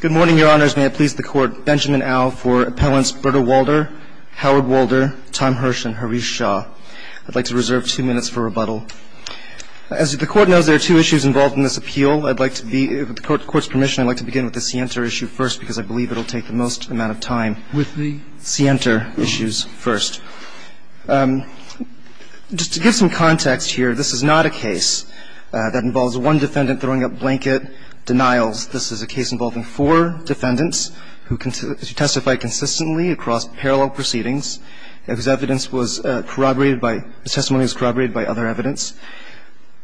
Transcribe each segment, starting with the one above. Good morning, Your Honors. May it please the Court, Benjamin Au for appellants Britta Walder, Howard Walder, Tom Hersch and Harish Shah. I'd like to reserve two minutes for rebuttal. As the Court knows, there are two issues involved in this appeal. With the Court's permission, I'd like to begin with the Sienta issue first because I believe it will take the most amount of time. With the Sienta issues first. Just to give some context here, this is not a case that involves one defendant throwing up blanket denials. This is a case involving four defendants who testified consistently across parallel proceedings whose evidence was corroborated by the testimony was corroborated by other evidence.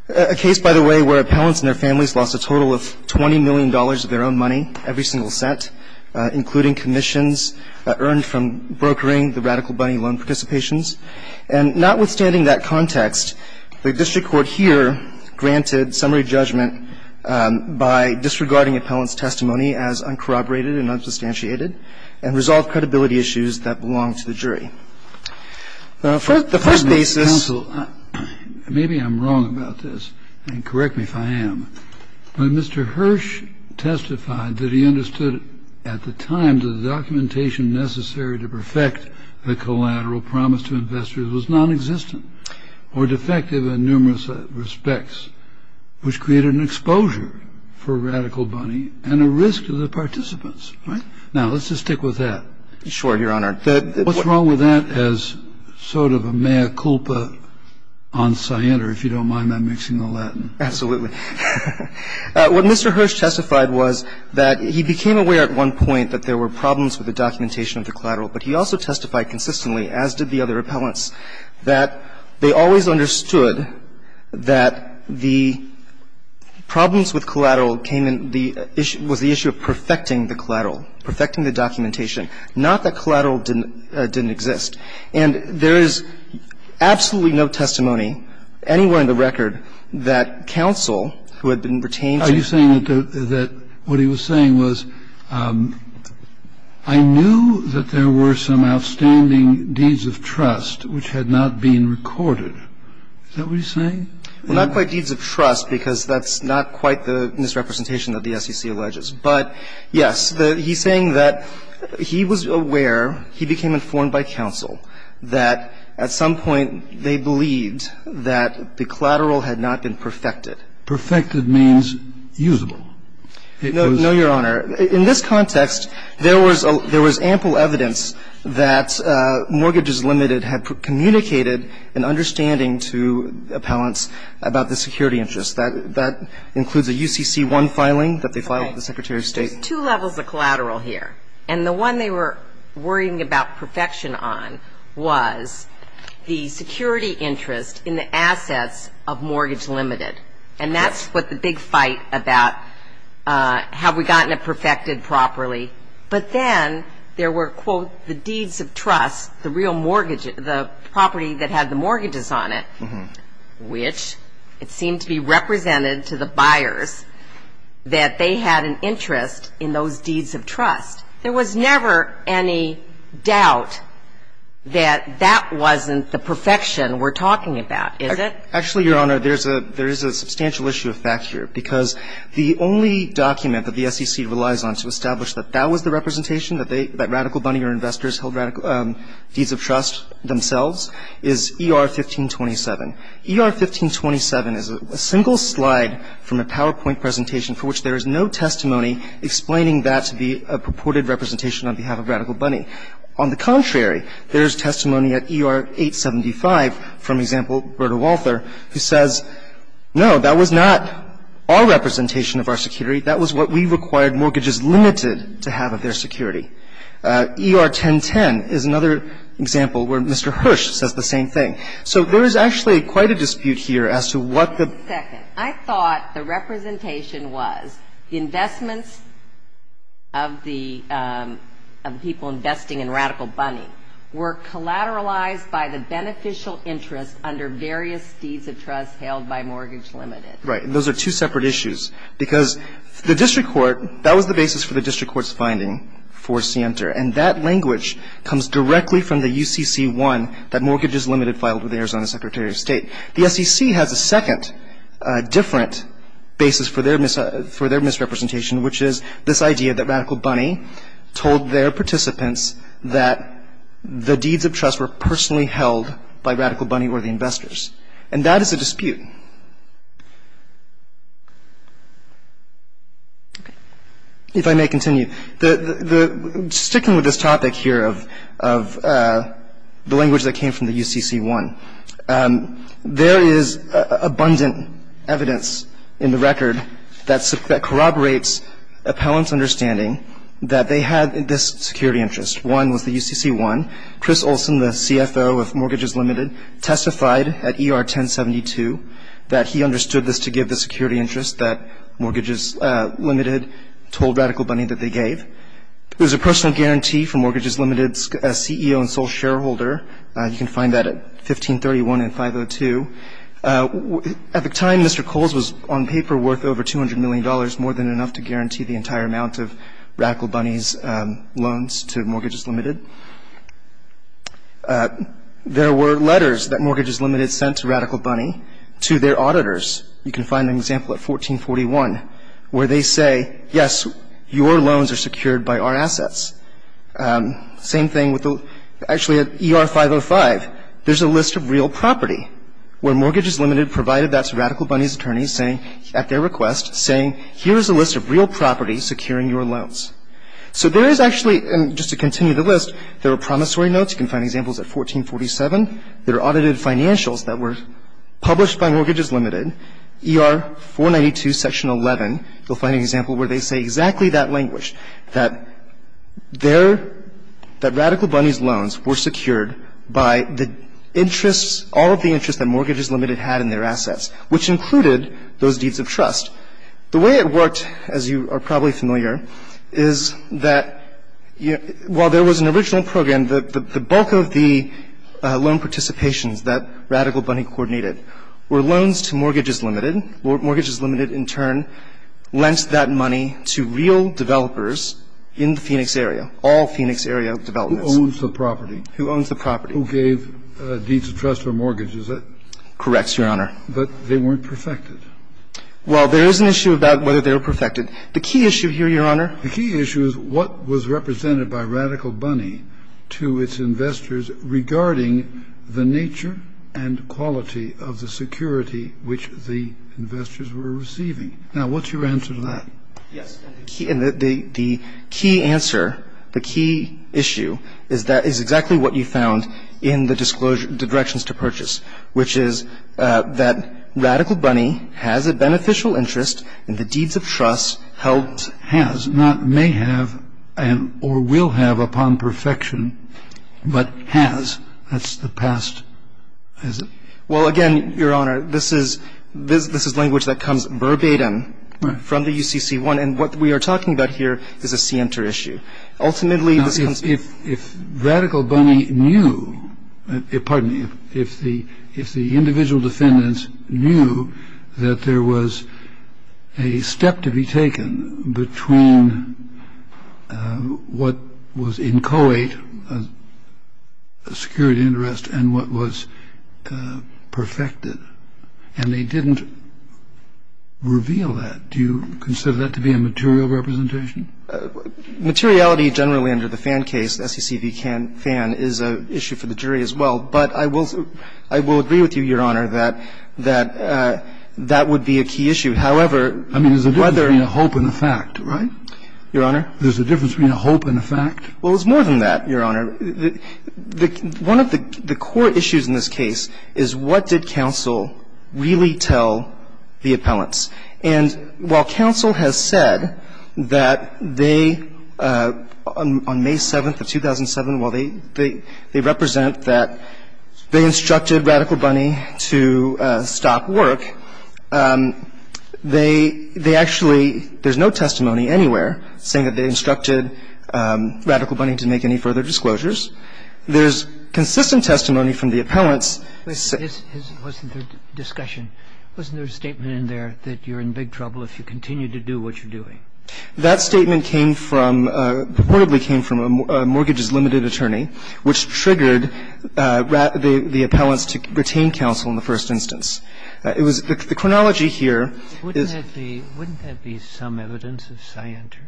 A case, by the way, where appellants and their families lost a total of $20 million of their own money every single set, including commissions earned from brokering the Radical Bunny loan participations. And notwithstanding that context, the district court here granted summary judgment by disregarding appellant's testimony as uncorroborated and unsubstantiated and resolved credibility issues that belonged to the jury. The first basis. Maybe I'm wrong about this, and correct me if I am. When Mr. Hersch testified that he understood at the time the documentation necessary to perfect the collateral promise to investors was nonexistent or defective in numerous respects, which created an exposure for Radical Bunny and a risk to the participants. Now, let's just stick with that. Sure, Your Honor. What's wrong with that as sort of a mea culpa on Sienta, if you don't mind my mixing the Latin? Absolutely. What Mr. Hersch testified was that he became aware at one point that there were problems with the documentation of the collateral, but he also testified consistently, as did the other appellants, that they always understood that the problems with collateral came in the issue of perfecting the collateral, perfecting the documentation, not that collateral didn't exist. And there is absolutely no testimony anywhere in the record that counsel who had been retained to the court. I'm just saying that what he was saying was, I knew that there were some outstanding deeds of trust which had not been recorded. Is that what he's saying? Well, not quite deeds of trust, because that's not quite the misrepresentation that the SEC alleges. But, yes, he's saying that he was aware, he became informed by counsel, that at some point they believed that the collateral had not been perfected. Perfected means usable. No, Your Honor. In this context, there was ample evidence that Mortgages Limited had communicated an understanding to appellants about the security interests. That includes a UCC-1 filing that they filed with the Secretary of State. There's two levels of collateral here. And the one they were worrying about perfection on was the security interest in the assets of Mortgage Limited. And that's what the big fight about, have we gotten it perfected properly? But then there were, quote, the deeds of trust, the real mortgage, the property that had the mortgages on it, which it seemed to be represented to the buyers that they had an interest in those deeds of trust. There was never any doubt that that wasn't the perfection we're talking about, is it? Actually, Your Honor, there's a substantial issue of fact here. Because the only document that the SEC relies on to establish that that was the representation, that Radical Bunny or investors held deeds of trust themselves, is ER-1527. ER-1527 is a single slide from a PowerPoint presentation for which there is no testimony explaining that to be a purported representation on behalf of Radical Bunny. On the contrary, there is testimony at ER-875 from, example, Berta Walther, who says, no, that was not our representation of our security. That was what we required Mortgages Limited to have of their security. ER-1010 is another example where Mr. Hirsch says the same thing. So there is actually quite a dispute here as to what the ---- were collateralized by the beneficial interest under various deeds of trust held by Mortgage Limited. Right. Those are two separate issues. Because the district court, that was the basis for the district court's finding for Sienter. And that language comes directly from the UCC-1 that Mortgages Limited filed with the Arizona Secretary of State. The SEC has a second different basis for their misrepresentation, which is this idea that Radical Bunny told their participants that the deeds of trust were personally held by Radical Bunny or the investors. And that is a dispute. If I may continue, sticking with this topic here of the language that came from the UCC-1, there is abundant evidence in the record that corroborates appellants' understanding that they had this security interest. One was the UCC-1. Chris Olson, the CFO of Mortgages Limited, testified at ER-1072 that he understood this to give the security interest that Mortgages Limited told Radical Bunny that they gave. There's a personal guarantee for Mortgages Limited's CEO and sole shareholder. You can find that at 1531 and 502. At the time, Mr. Coles was on paper worth over $200 million, more than enough to guarantee the entire amount of Radical Bunny's loans to Mortgages Limited. There were letters that Mortgages Limited sent to Radical Bunny to their auditors. You can find an example at 1441 where they say, yes, your loans are secured by our assets. Same thing with the ER-505. There's a list of real property where Mortgages Limited provided that to Radical Bunny's attorneys at their request, saying, here is a list of real property securing your loans. So there is actually, and just to continue the list, there are promissory notes. You can find examples at 1447. There are audited financials that were published by Mortgages Limited. ER-492, Section 11, you'll find an example where they say exactly that language, that Radical Bunny's loans were secured by the interests, all of the interests that Mortgages Limited had in their assets, which included those deeds of trust. The way it worked, as you are probably familiar, is that while there was an original program, the bulk of the loan participations that Radical Bunny coordinated were loans to Mortgages Limited. Mortgages Limited, in turn, lent that money to real developers in the Phoenix area, all Phoenix area developments. Who owns the property? Who owns the property. Who gave deeds of trust for mortgages. Correct, Your Honor. But they weren't perfected. Well, there is an issue about whether they were perfected. The key issue here, Your Honor. The key issue is what was represented by Radical Bunny to its investors regarding the nature and quality of the security which the investors were receiving. Now, what's your answer to that? Yes. And the key answer, the key issue, is exactly what you found in the directions to purchase, which is that Radical Bunny has a beneficial interest in the deeds of trust held Now, the question is, does this mean that Radical Bunny has, has not, may have, or will have upon perfection, but has? That's the past. Well, again, Your Honor, this is language that comes verbatim from the UCC-1. And what we are talking about here is a scienter issue. Now, if Radical Bunny knew, pardon me, if the individual defendants knew that there was a step to be taken between what was inchoate security interest and what was perfected, and they didn't reveal that, do you consider that to be a material representation? Materiality generally under the Fan case, SEC v. Fan, is an issue for the jury as well. But I will agree with you, Your Honor, that that would be a key issue. However, whether I mean, there's a difference between a hope and a fact, right? Your Honor? There's a difference between a hope and a fact. Well, it's more than that, Your Honor. One of the core issues in this case is what did counsel really tell the appellants? And while counsel has said that they, on May 7th of 2007, while they represent that they instructed Radical Bunny to stop work, they actually, there's no testimony anywhere saying that they instructed Radical Bunny to make any further disclosures. There's consistent testimony from the appellants. But wasn't there a discussion? Wasn't there a statement in there that you're in big trouble if you continue to do what you're doing? That statement came from, purportedly came from a mortgages limited attorney, which triggered the appellants to retain counsel in the first instance. It was the chronology here is Wouldn't that be some evidence of scienter?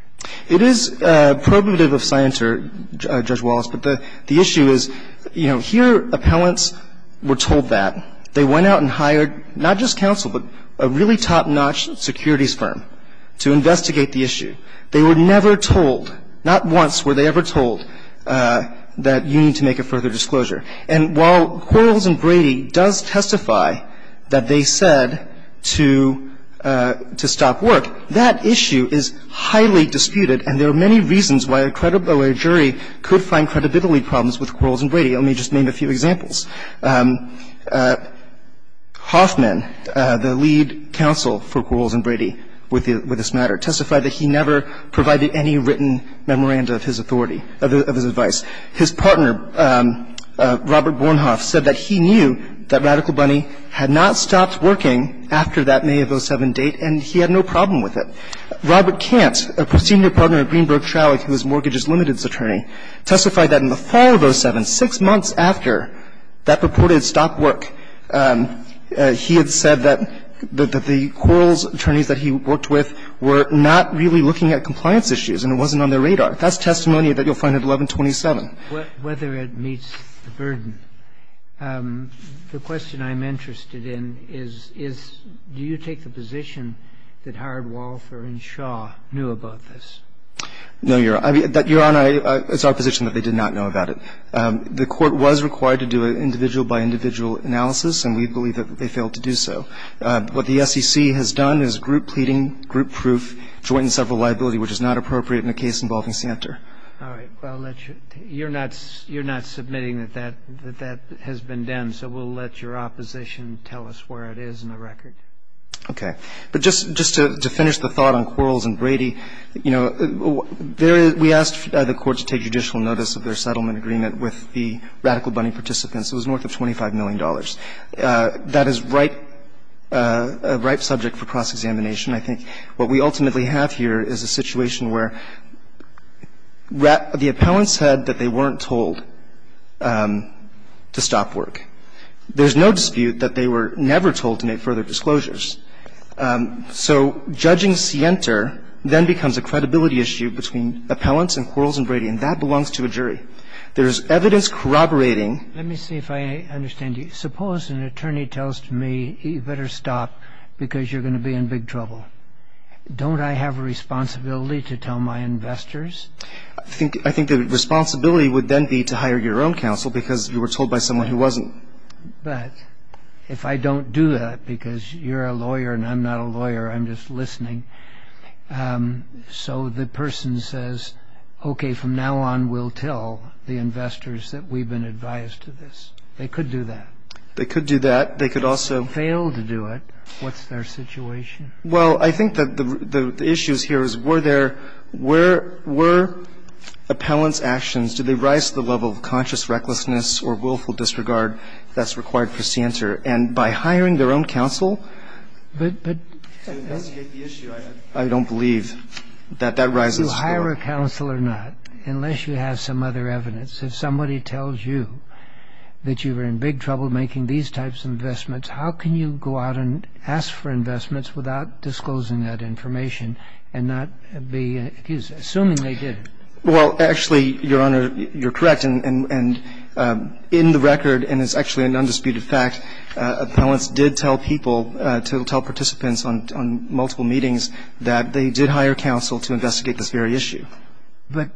It is probative of scienter, Judge Wallace. But the issue is, you know, here appellants were told that. They went out and hired not just counsel, but a really top-notch securities firm to investigate the issue. They were never told, not once were they ever told that you need to make a further disclosure. And while Quarles and Brady does testify that they said to stop work, that issue is highly disputed, and there are many reasons why a jury could find credibility problems with Quarles and Brady. Let me just name a few examples. Hoffman, the lead counsel for Quarles and Brady with this matter, testified that he never provided any written memoranda of his authority, of his advice. His partner, Robert Bornhoff, said that he knew that Radical Bunny had not stopped working after that May of 07 date, and he had no problem with it. Robert Kant, a senior partner at Greenberg Trawick, who was mortgages limited's partner, testified that in the fall of 07, six months after that reported stopped work, he had said that the Quarles attorneys that he worked with were not really looking at compliance issues and it wasn't on their radar. That's testimony that you'll find at 1127. Whether it meets the burden. The question I'm interested in is, is do you take the position that Howard Walfer and Shaw knew about this? No, Your Honor. Your Honor, it's our position that they did not know about it. The Court was required to do an individual-by-individual analysis, and we believe that they failed to do so. What the SEC has done is group pleading, group proof, joint and several liability, which is not appropriate in a case involving Santer. All right. Well, you're not submitting that that has been done. So we'll let your opposition tell us where it is in the record. Okay. But just to finish the thought on Quarles and Brady, you know, there is we asked the Court to take judicial notice of their settlement agreement with the Radical Bunny participants. It was worth of $25 million. That is ripe, a ripe subject for cross-examination. I think what we ultimately have here is a situation where the appellants said that they weren't told to stop work. There's no dispute that they were never told to make further disclosures. So judging Santer then becomes a credibility issue between appellants and Quarles and Brady, and that belongs to a jury. There is evidence corroborating. Let me see if I understand you. Suppose an attorney tells me you better stop because you're going to be in big trouble. Don't I have a responsibility to tell my investors? I think the responsibility would then be to hire your own counsel because you were told by someone who wasn't. But if I don't do that because you're a lawyer and I'm not a lawyer, I'm just listening, so the person says, okay, from now on we'll tell the investors that we've been advised to this. They could do that. They could do that. They could also fail to do it. What's their situation? Well, I think that the issue here is were there, were appellants' actions, did they that's required for Santer. And by hiring their own counsel to investigate the issue, I don't believe that that rises to the floor. So hire a counsel or not, unless you have some other evidence. If somebody tells you that you were in big trouble making these types of investments, how can you go out and ask for investments without disclosing that information and not be accused, assuming they did? Well, actually, Your Honor, you're correct. And in the record, and it's actually an undisputed fact, appellants did tell people to tell participants on multiple meetings that they did hire counsel to investigate this very issue. But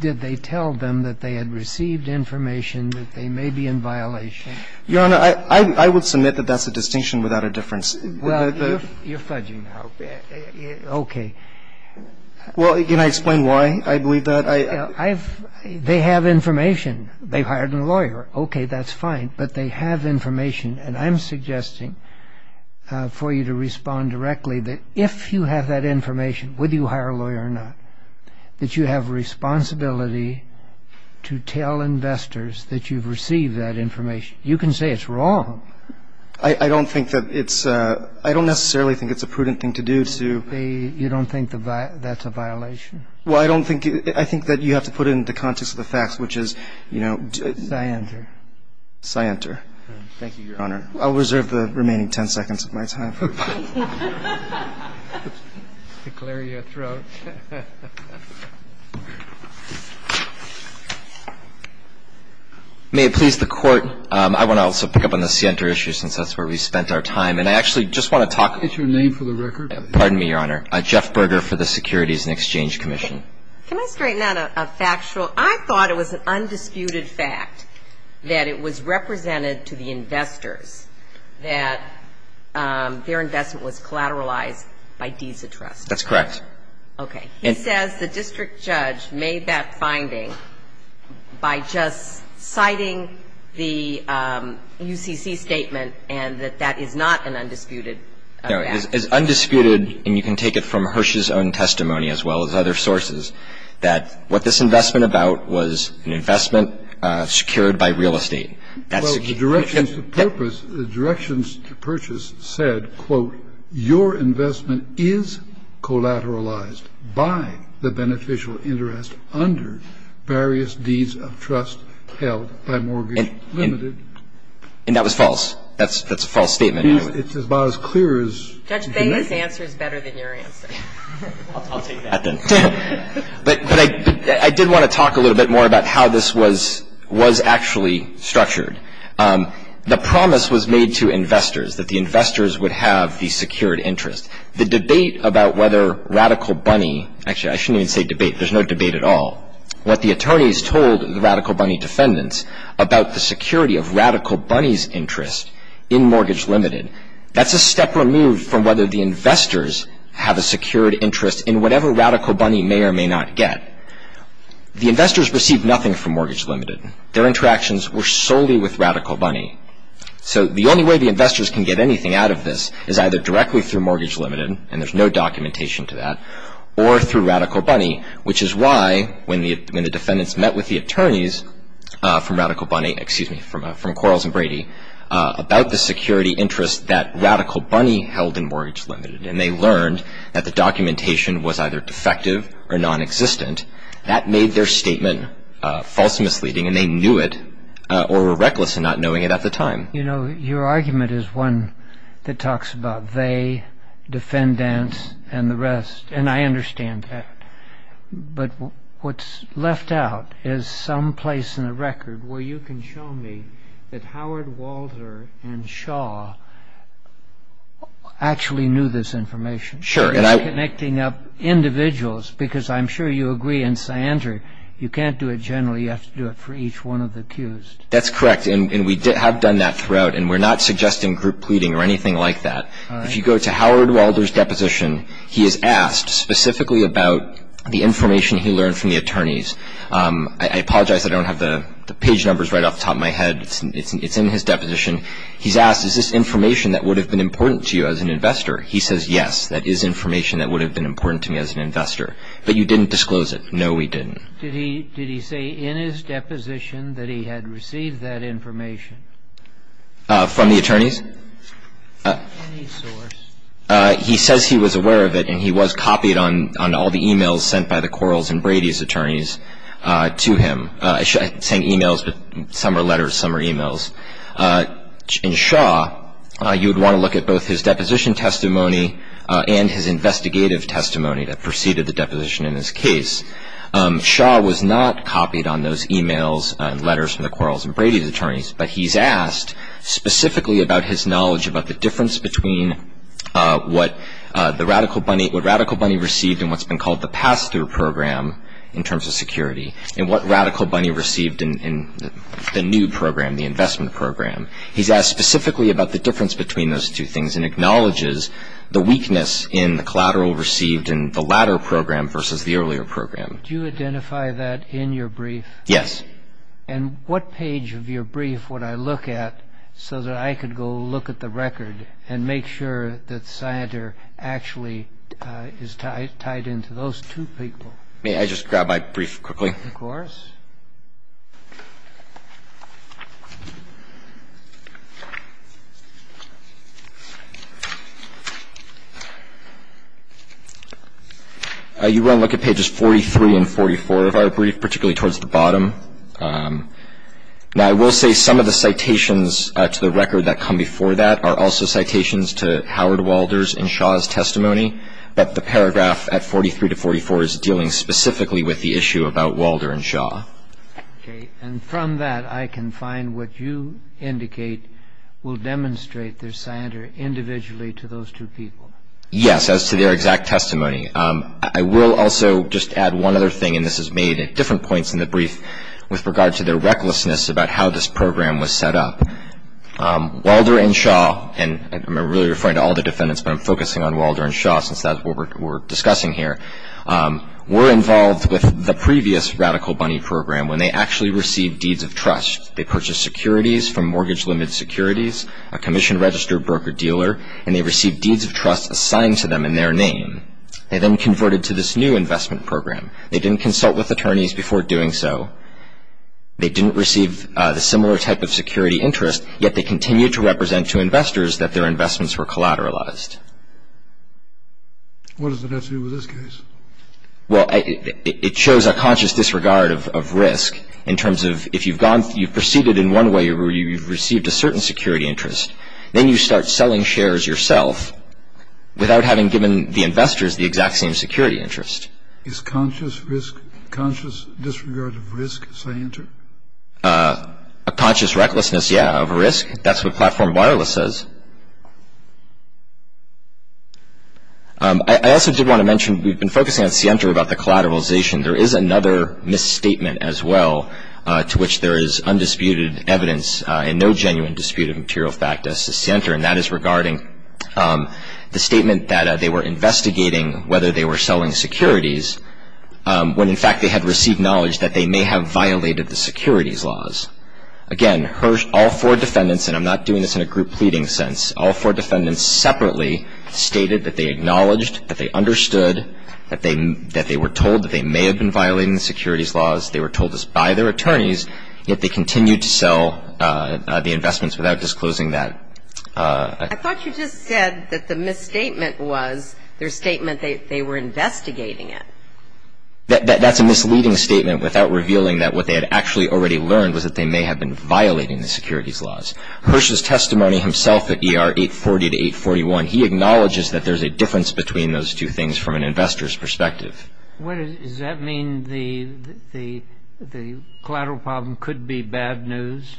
did they tell them that they had received information that they may be in violation? Your Honor, I would submit that that's a distinction without a difference. Well, you're fudging now. Okay. Well, can I explain why I believe that? They have information. They've hired a lawyer. Okay, that's fine. But they have information. And I'm suggesting for you to respond directly that if you have that information, whether you hire a lawyer or not, that you have responsibility to tell investors that you've received that information. You can say it's wrong. I don't think that it's – I don't necessarily think it's a prudent thing to do to – You don't think that's a violation? Well, I don't think – I think that you have to put it in the context of the facts, which is, you know – Scienter. Scienter. Thank you, Your Honor. I'll reserve the remaining ten seconds of my time. To clear your throat. May it please the Court, I want to also pick up on the Scienter issue since that's where we spent our time. And I actually just want to talk – Is your name for the record? Pardon me, Your Honor. Jeff Berger for the Securities and Exchange Commission. Can I straighten out a factual – I thought it was an undisputed fact that it was represented to the investors that their investment was collateralized by Deeds of Trust. That's correct. Okay. He says the district judge made that finding by just citing the UCC statement and that that is not an undisputed fact. No. It's undisputed, and you can take it from Hirsch's own testimony as well as other sources, that what this investment about was an investment secured by real estate. Well, the directions to purpose – the directions to purchase said, quote, your investment is collateralized by the beneficial interest under various Deeds of Trust held by Mortgage Limited. And that was false. That's a false statement. It's about as clear as you can make it. Judge, I think this answer is better than your answer. I'll take that. But I did want to talk a little bit more about how this was actually structured. The promise was made to investors that the investors would have the secured interest. The debate about whether Radical Bunny – actually, I shouldn't even say debate. There's no debate at all. What the attorneys told the Radical Bunny defendants about the security of Radical Bunny's interest in Mortgage Limited, that's a step removed from whether the investors have a secured interest in whatever Radical Bunny may or may not get. The investors received nothing from Mortgage Limited. Their interactions were solely with Radical Bunny. So the only way the investors can get anything out of this is either directly through Mortgage Limited, and there's no documentation to that, or through Radical Bunny, which is why when the defendants met with the attorneys from Radical Bunny – about the security interest that Radical Bunny held in Mortgage Limited, and they learned that the documentation was either defective or nonexistent, that made their statement false and misleading, and they knew it, or were reckless in not knowing it at the time. You know, your argument is one that talks about they, defendants, and the rest, and I understand that. But what's left out is some place in the record where you can show me that Howard Walder and Shaw actually knew this information. Sure, and I – Connecting up individuals, because I'm sure you agree in Sandra, you can't do it generally, you have to do it for each one of the accused. That's correct, and we have done that throughout, and we're not suggesting group pleading or anything like that. All right. If you go to Howard Walder's deposition, he is asked specifically about the information he learned from the attorneys. I apologize, I don't have the page numbers right off the top of my head. It's in his deposition. He's asked, is this information that would have been important to you as an investor? He says, yes, that is information that would have been important to me as an investor. But you didn't disclose it. No, we didn't. Did he say in his deposition that he had received that information? From the attorneys? Any source. He says he was aware of it, and he was copied on all the e-mails sent by the Quarles and Brady's attorneys to him. I'm saying e-mails, but some are letters, some are e-mails. In Shaw, you would want to look at both his deposition testimony and his investigative testimony that preceded the deposition in this case. Shaw was not copied on those e-mails and letters from the Quarles and Brady's attorneys, but he's asked specifically about his knowledge about the difference between what the Radical Bunny, what Radical Bunny received and what's been called the pass-through program in terms of security and what Radical Bunny received in the new program, the investment program. He's asked specifically about the difference between those two things and acknowledges the weakness in the collateral received in the latter program versus the earlier program. Do you identify that in your brief? Yes. And what page of your brief would I look at so that I could go look at the record and make sure that Synder actually is tied into those two people? May I just grab my brief quickly? Of course. You want to look at pages 43 and 44 of our brief, particularly towards the bottom. Now, I will say some of the citations to the record that come before that are also citations to Howard Walders in Shaw's testimony, but the paragraph at 43 to 44 is dealing specifically with the issue about Walder and Shaw. Okay. And from that, I can find what you indicate will demonstrate there's Synder individually to those two people. Yes, as to their exact testimony. I will also just add one other thing, and this is made at different points in the brief, with regard to their recklessness about how this program was set up. Walder and Shaw, and I'm really referring to all the defendants, but I'm focusing on Walder and Shaw since that's what we're discussing here, were involved with the previous Radical Bunny Program when they actually received deeds of trust. They purchased securities from Mortgage Limited Securities, a commission-registered broker-dealer, and they received deeds of trust assigned to them in their name. They then converted to this new investment program. They didn't consult with attorneys before doing so. They didn't receive the similar type of security interest, yet they continued to represent to investors that their investments were collateralized. What does that have to do with this case? Well, it shows a conscious disregard of risk in terms of if you've proceeded in one way where you've received a certain security interest, then you start selling shares yourself without having given the investors the exact same security interest. Is conscious risk, conscious disregard of risk, Sienter? A conscious recklessness, yeah, of risk. That's what Platform Wireless says. I also did want to mention we've been focusing on Sienter about the collateralization. There is another misstatement as well to which there is undisputed evidence and no genuine dispute of material fact as to Sienter, and that is regarding the statement that they were investigating whether they were selling securities when in fact they had received knowledge that they may have violated the securities laws. Again, all four defendants, and I'm not doing this in a group pleading sense, all four defendants separately stated that they acknowledged, that they understood, that they were told that they may have been violating the securities laws, they were told this by their attorneys, yet they continued to sell the investments without disclosing that. I thought you just said that the misstatement was their statement they were investigating it. That's a misleading statement without revealing that what they had actually already learned was that they may have been violating the securities laws. Hirsch's testimony himself at ER 840 to 841, he acknowledges that there's a difference between those two things from an investor's perspective. Does that mean the collateral problem could be bad news?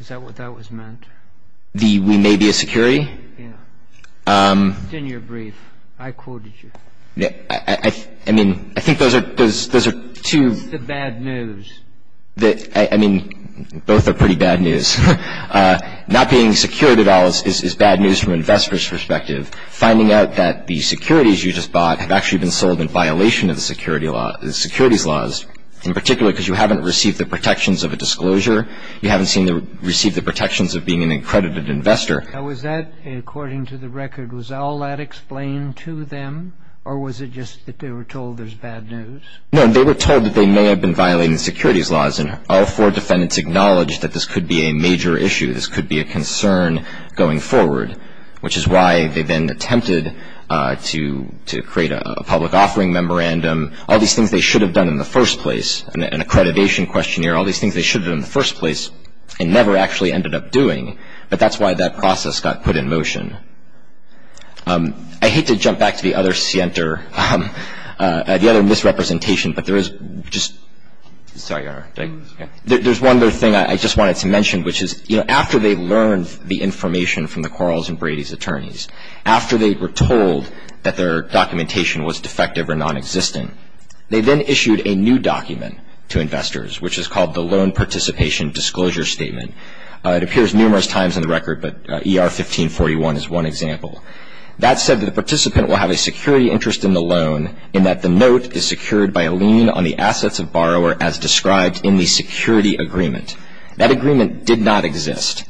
Is that what that was meant? The we may be a security? Yeah. It's in your brief. I quoted you. I mean, I think those are two. It's the bad news. I mean, both are pretty bad news. Not being secured at all is bad news from an investor's perspective. Finding out that the securities you just bought have actually been sold in violation of the securities laws, in particular because you haven't received the protections of a disclosure, you haven't received the protections of being an accredited investor. Now, was that, according to the record, was all that explained to them, or was it just that they were told there's bad news? No, they were told that they may have been violating the securities laws, and all four defendants acknowledged that this could be a major issue, this could be a concern going forward, which is why they then attempted to create a public offering memorandum, all these things they should have done in the first place, an accreditation questionnaire, all these things they should have done in the first place and never actually ended up doing, but that's why that process got put in motion. I hate to jump back to the other scienter, the other misrepresentation, but there is just one other thing I just wanted to mention, which is, you know, after they learned the information from the Quarles and Brady's attorneys, after they were told that their documentation was defective or nonexistent, they then issued a new document to investors, which is called the Loan Participation Disclosure Statement. It appears numerous times in the record, but ER 1541 is one example. That said, the participant will have a security interest in the loan in that the note is secured by a lien on the assets of borrower as described in the security agreement. That agreement did not exist.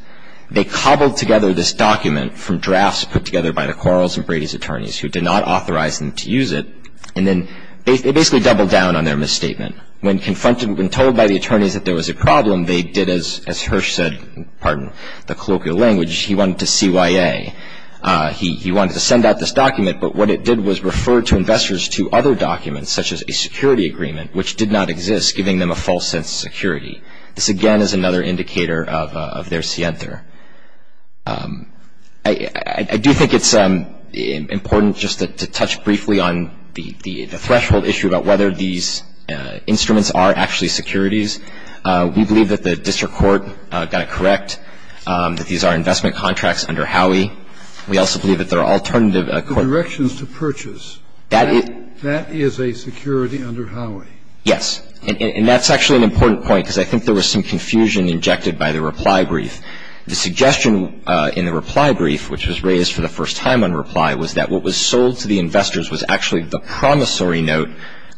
They cobbled together this document from drafts put together by the Quarles and Brady's attorneys who did not authorize them to use it, and then they basically doubled down on their misstatement. When told by the attorneys that there was a problem, they did as Hirsch said, pardon the colloquial language, he wanted to CYA, he wanted to send out this document, but what it did was refer to investors to other documents, such as a security agreement, which did not exist, giving them a false sense of security. This, again, is another indicator of their scienter. I do think it's important just to touch briefly on the threshold issue about whether these instruments are actually securities. We believe that the district court got it correct, that these are investment contracts under Howey. We also believe that there are alternative. The directions to purchase, that is a security under Howey. Yes. And that's actually an important point because I think there was some confusion injected by the reply brief. The suggestion in the reply brief, which was raised for the first time on reply, was that what was sold to the investors was actually the promissory note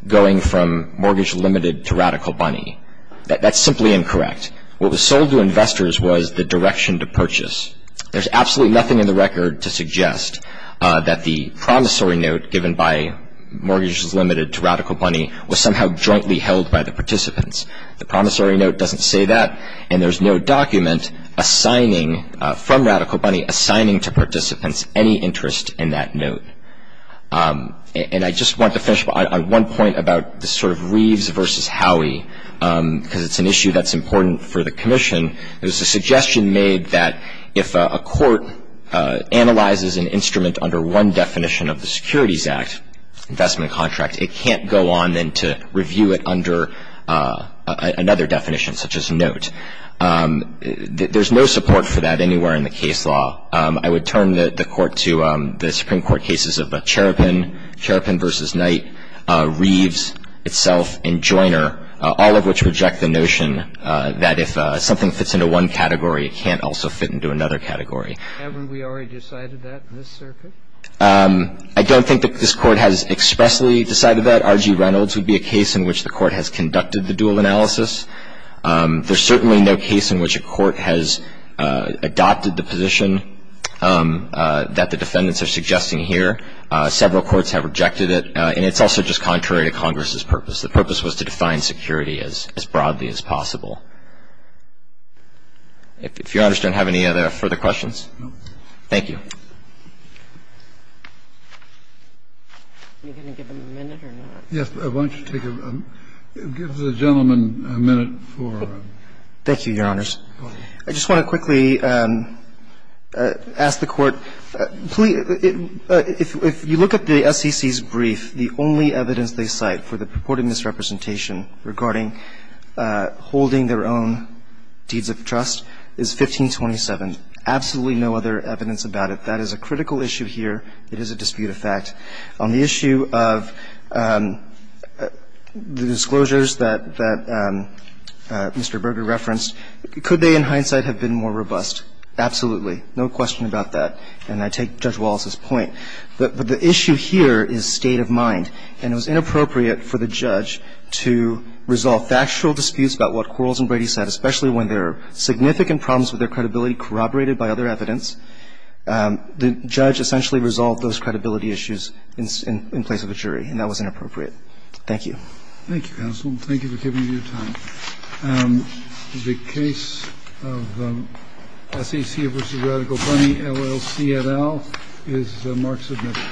going from mortgage limited to radical money. That's simply incorrect. What was sold to investors was the direction to purchase. There's absolutely nothing in the record to suggest that the promissory note given by mortgage limited to radical money was somehow jointly held by the participants. The promissory note doesn't say that. And there's no document assigning, from radical money, assigning to participants any interest in that note. And I just want to finish on one point about the sort of Reeves versus Howey, because it's an issue that's important for the commission. There was a suggestion made that if a court analyzes an instrument under one definition of the Securities Act, investment contract, it can't go on then to review it under another definition, such as note. There's no support for that anywhere in the case law. I would turn the Court to the Supreme Court cases of Cheropen, Cheropen versus Knight, Reeves itself, and Joiner, all of which reject the notion that if something fits into one category, it can't also fit into another category. Haven't we already decided that in this circuit? I don't think that this Court has expressly decided that. R.G. Reynolds would be a case in which the Court has conducted the dual analysis. There's certainly no case in which a court has adopted the position that the defendants are suggesting here. Several courts have rejected it. And it's also just contrary to Congress's purpose. The purpose was to define security as broadly as possible. If Your Honors don't have any other further questions. Thank you. Are you going to give them a minute or not? Yes. Why don't you take a ---- give the gentleman a minute for ---- Thank you, Your Honors. I just want to quickly ask the Court, please, if you look at the SEC's brief, the only evidence they cite for the purported misrepresentation regarding holding their own deeds of trust is 1527. Absolutely no other evidence about it. That is a critical issue here. It is a dispute of fact. On the issue of the disclosures that Mr. Berger referenced, could they in hindsight have been more robust? Absolutely. No question about that. And I take Judge Wallace's point. But the issue here is state of mind. And it was inappropriate for the judge to resolve factual disputes about what Quarles and Brady said, especially when there are significant problems with their credibility corroborated by other evidence. The judge essentially resolved those credibility issues in place of the jury. And that was inappropriate. Thank you. Thank you, counsel. Thank you for giving me your time. The case of SEC v. Radical Bunny, LLC, et al. is mark submitted.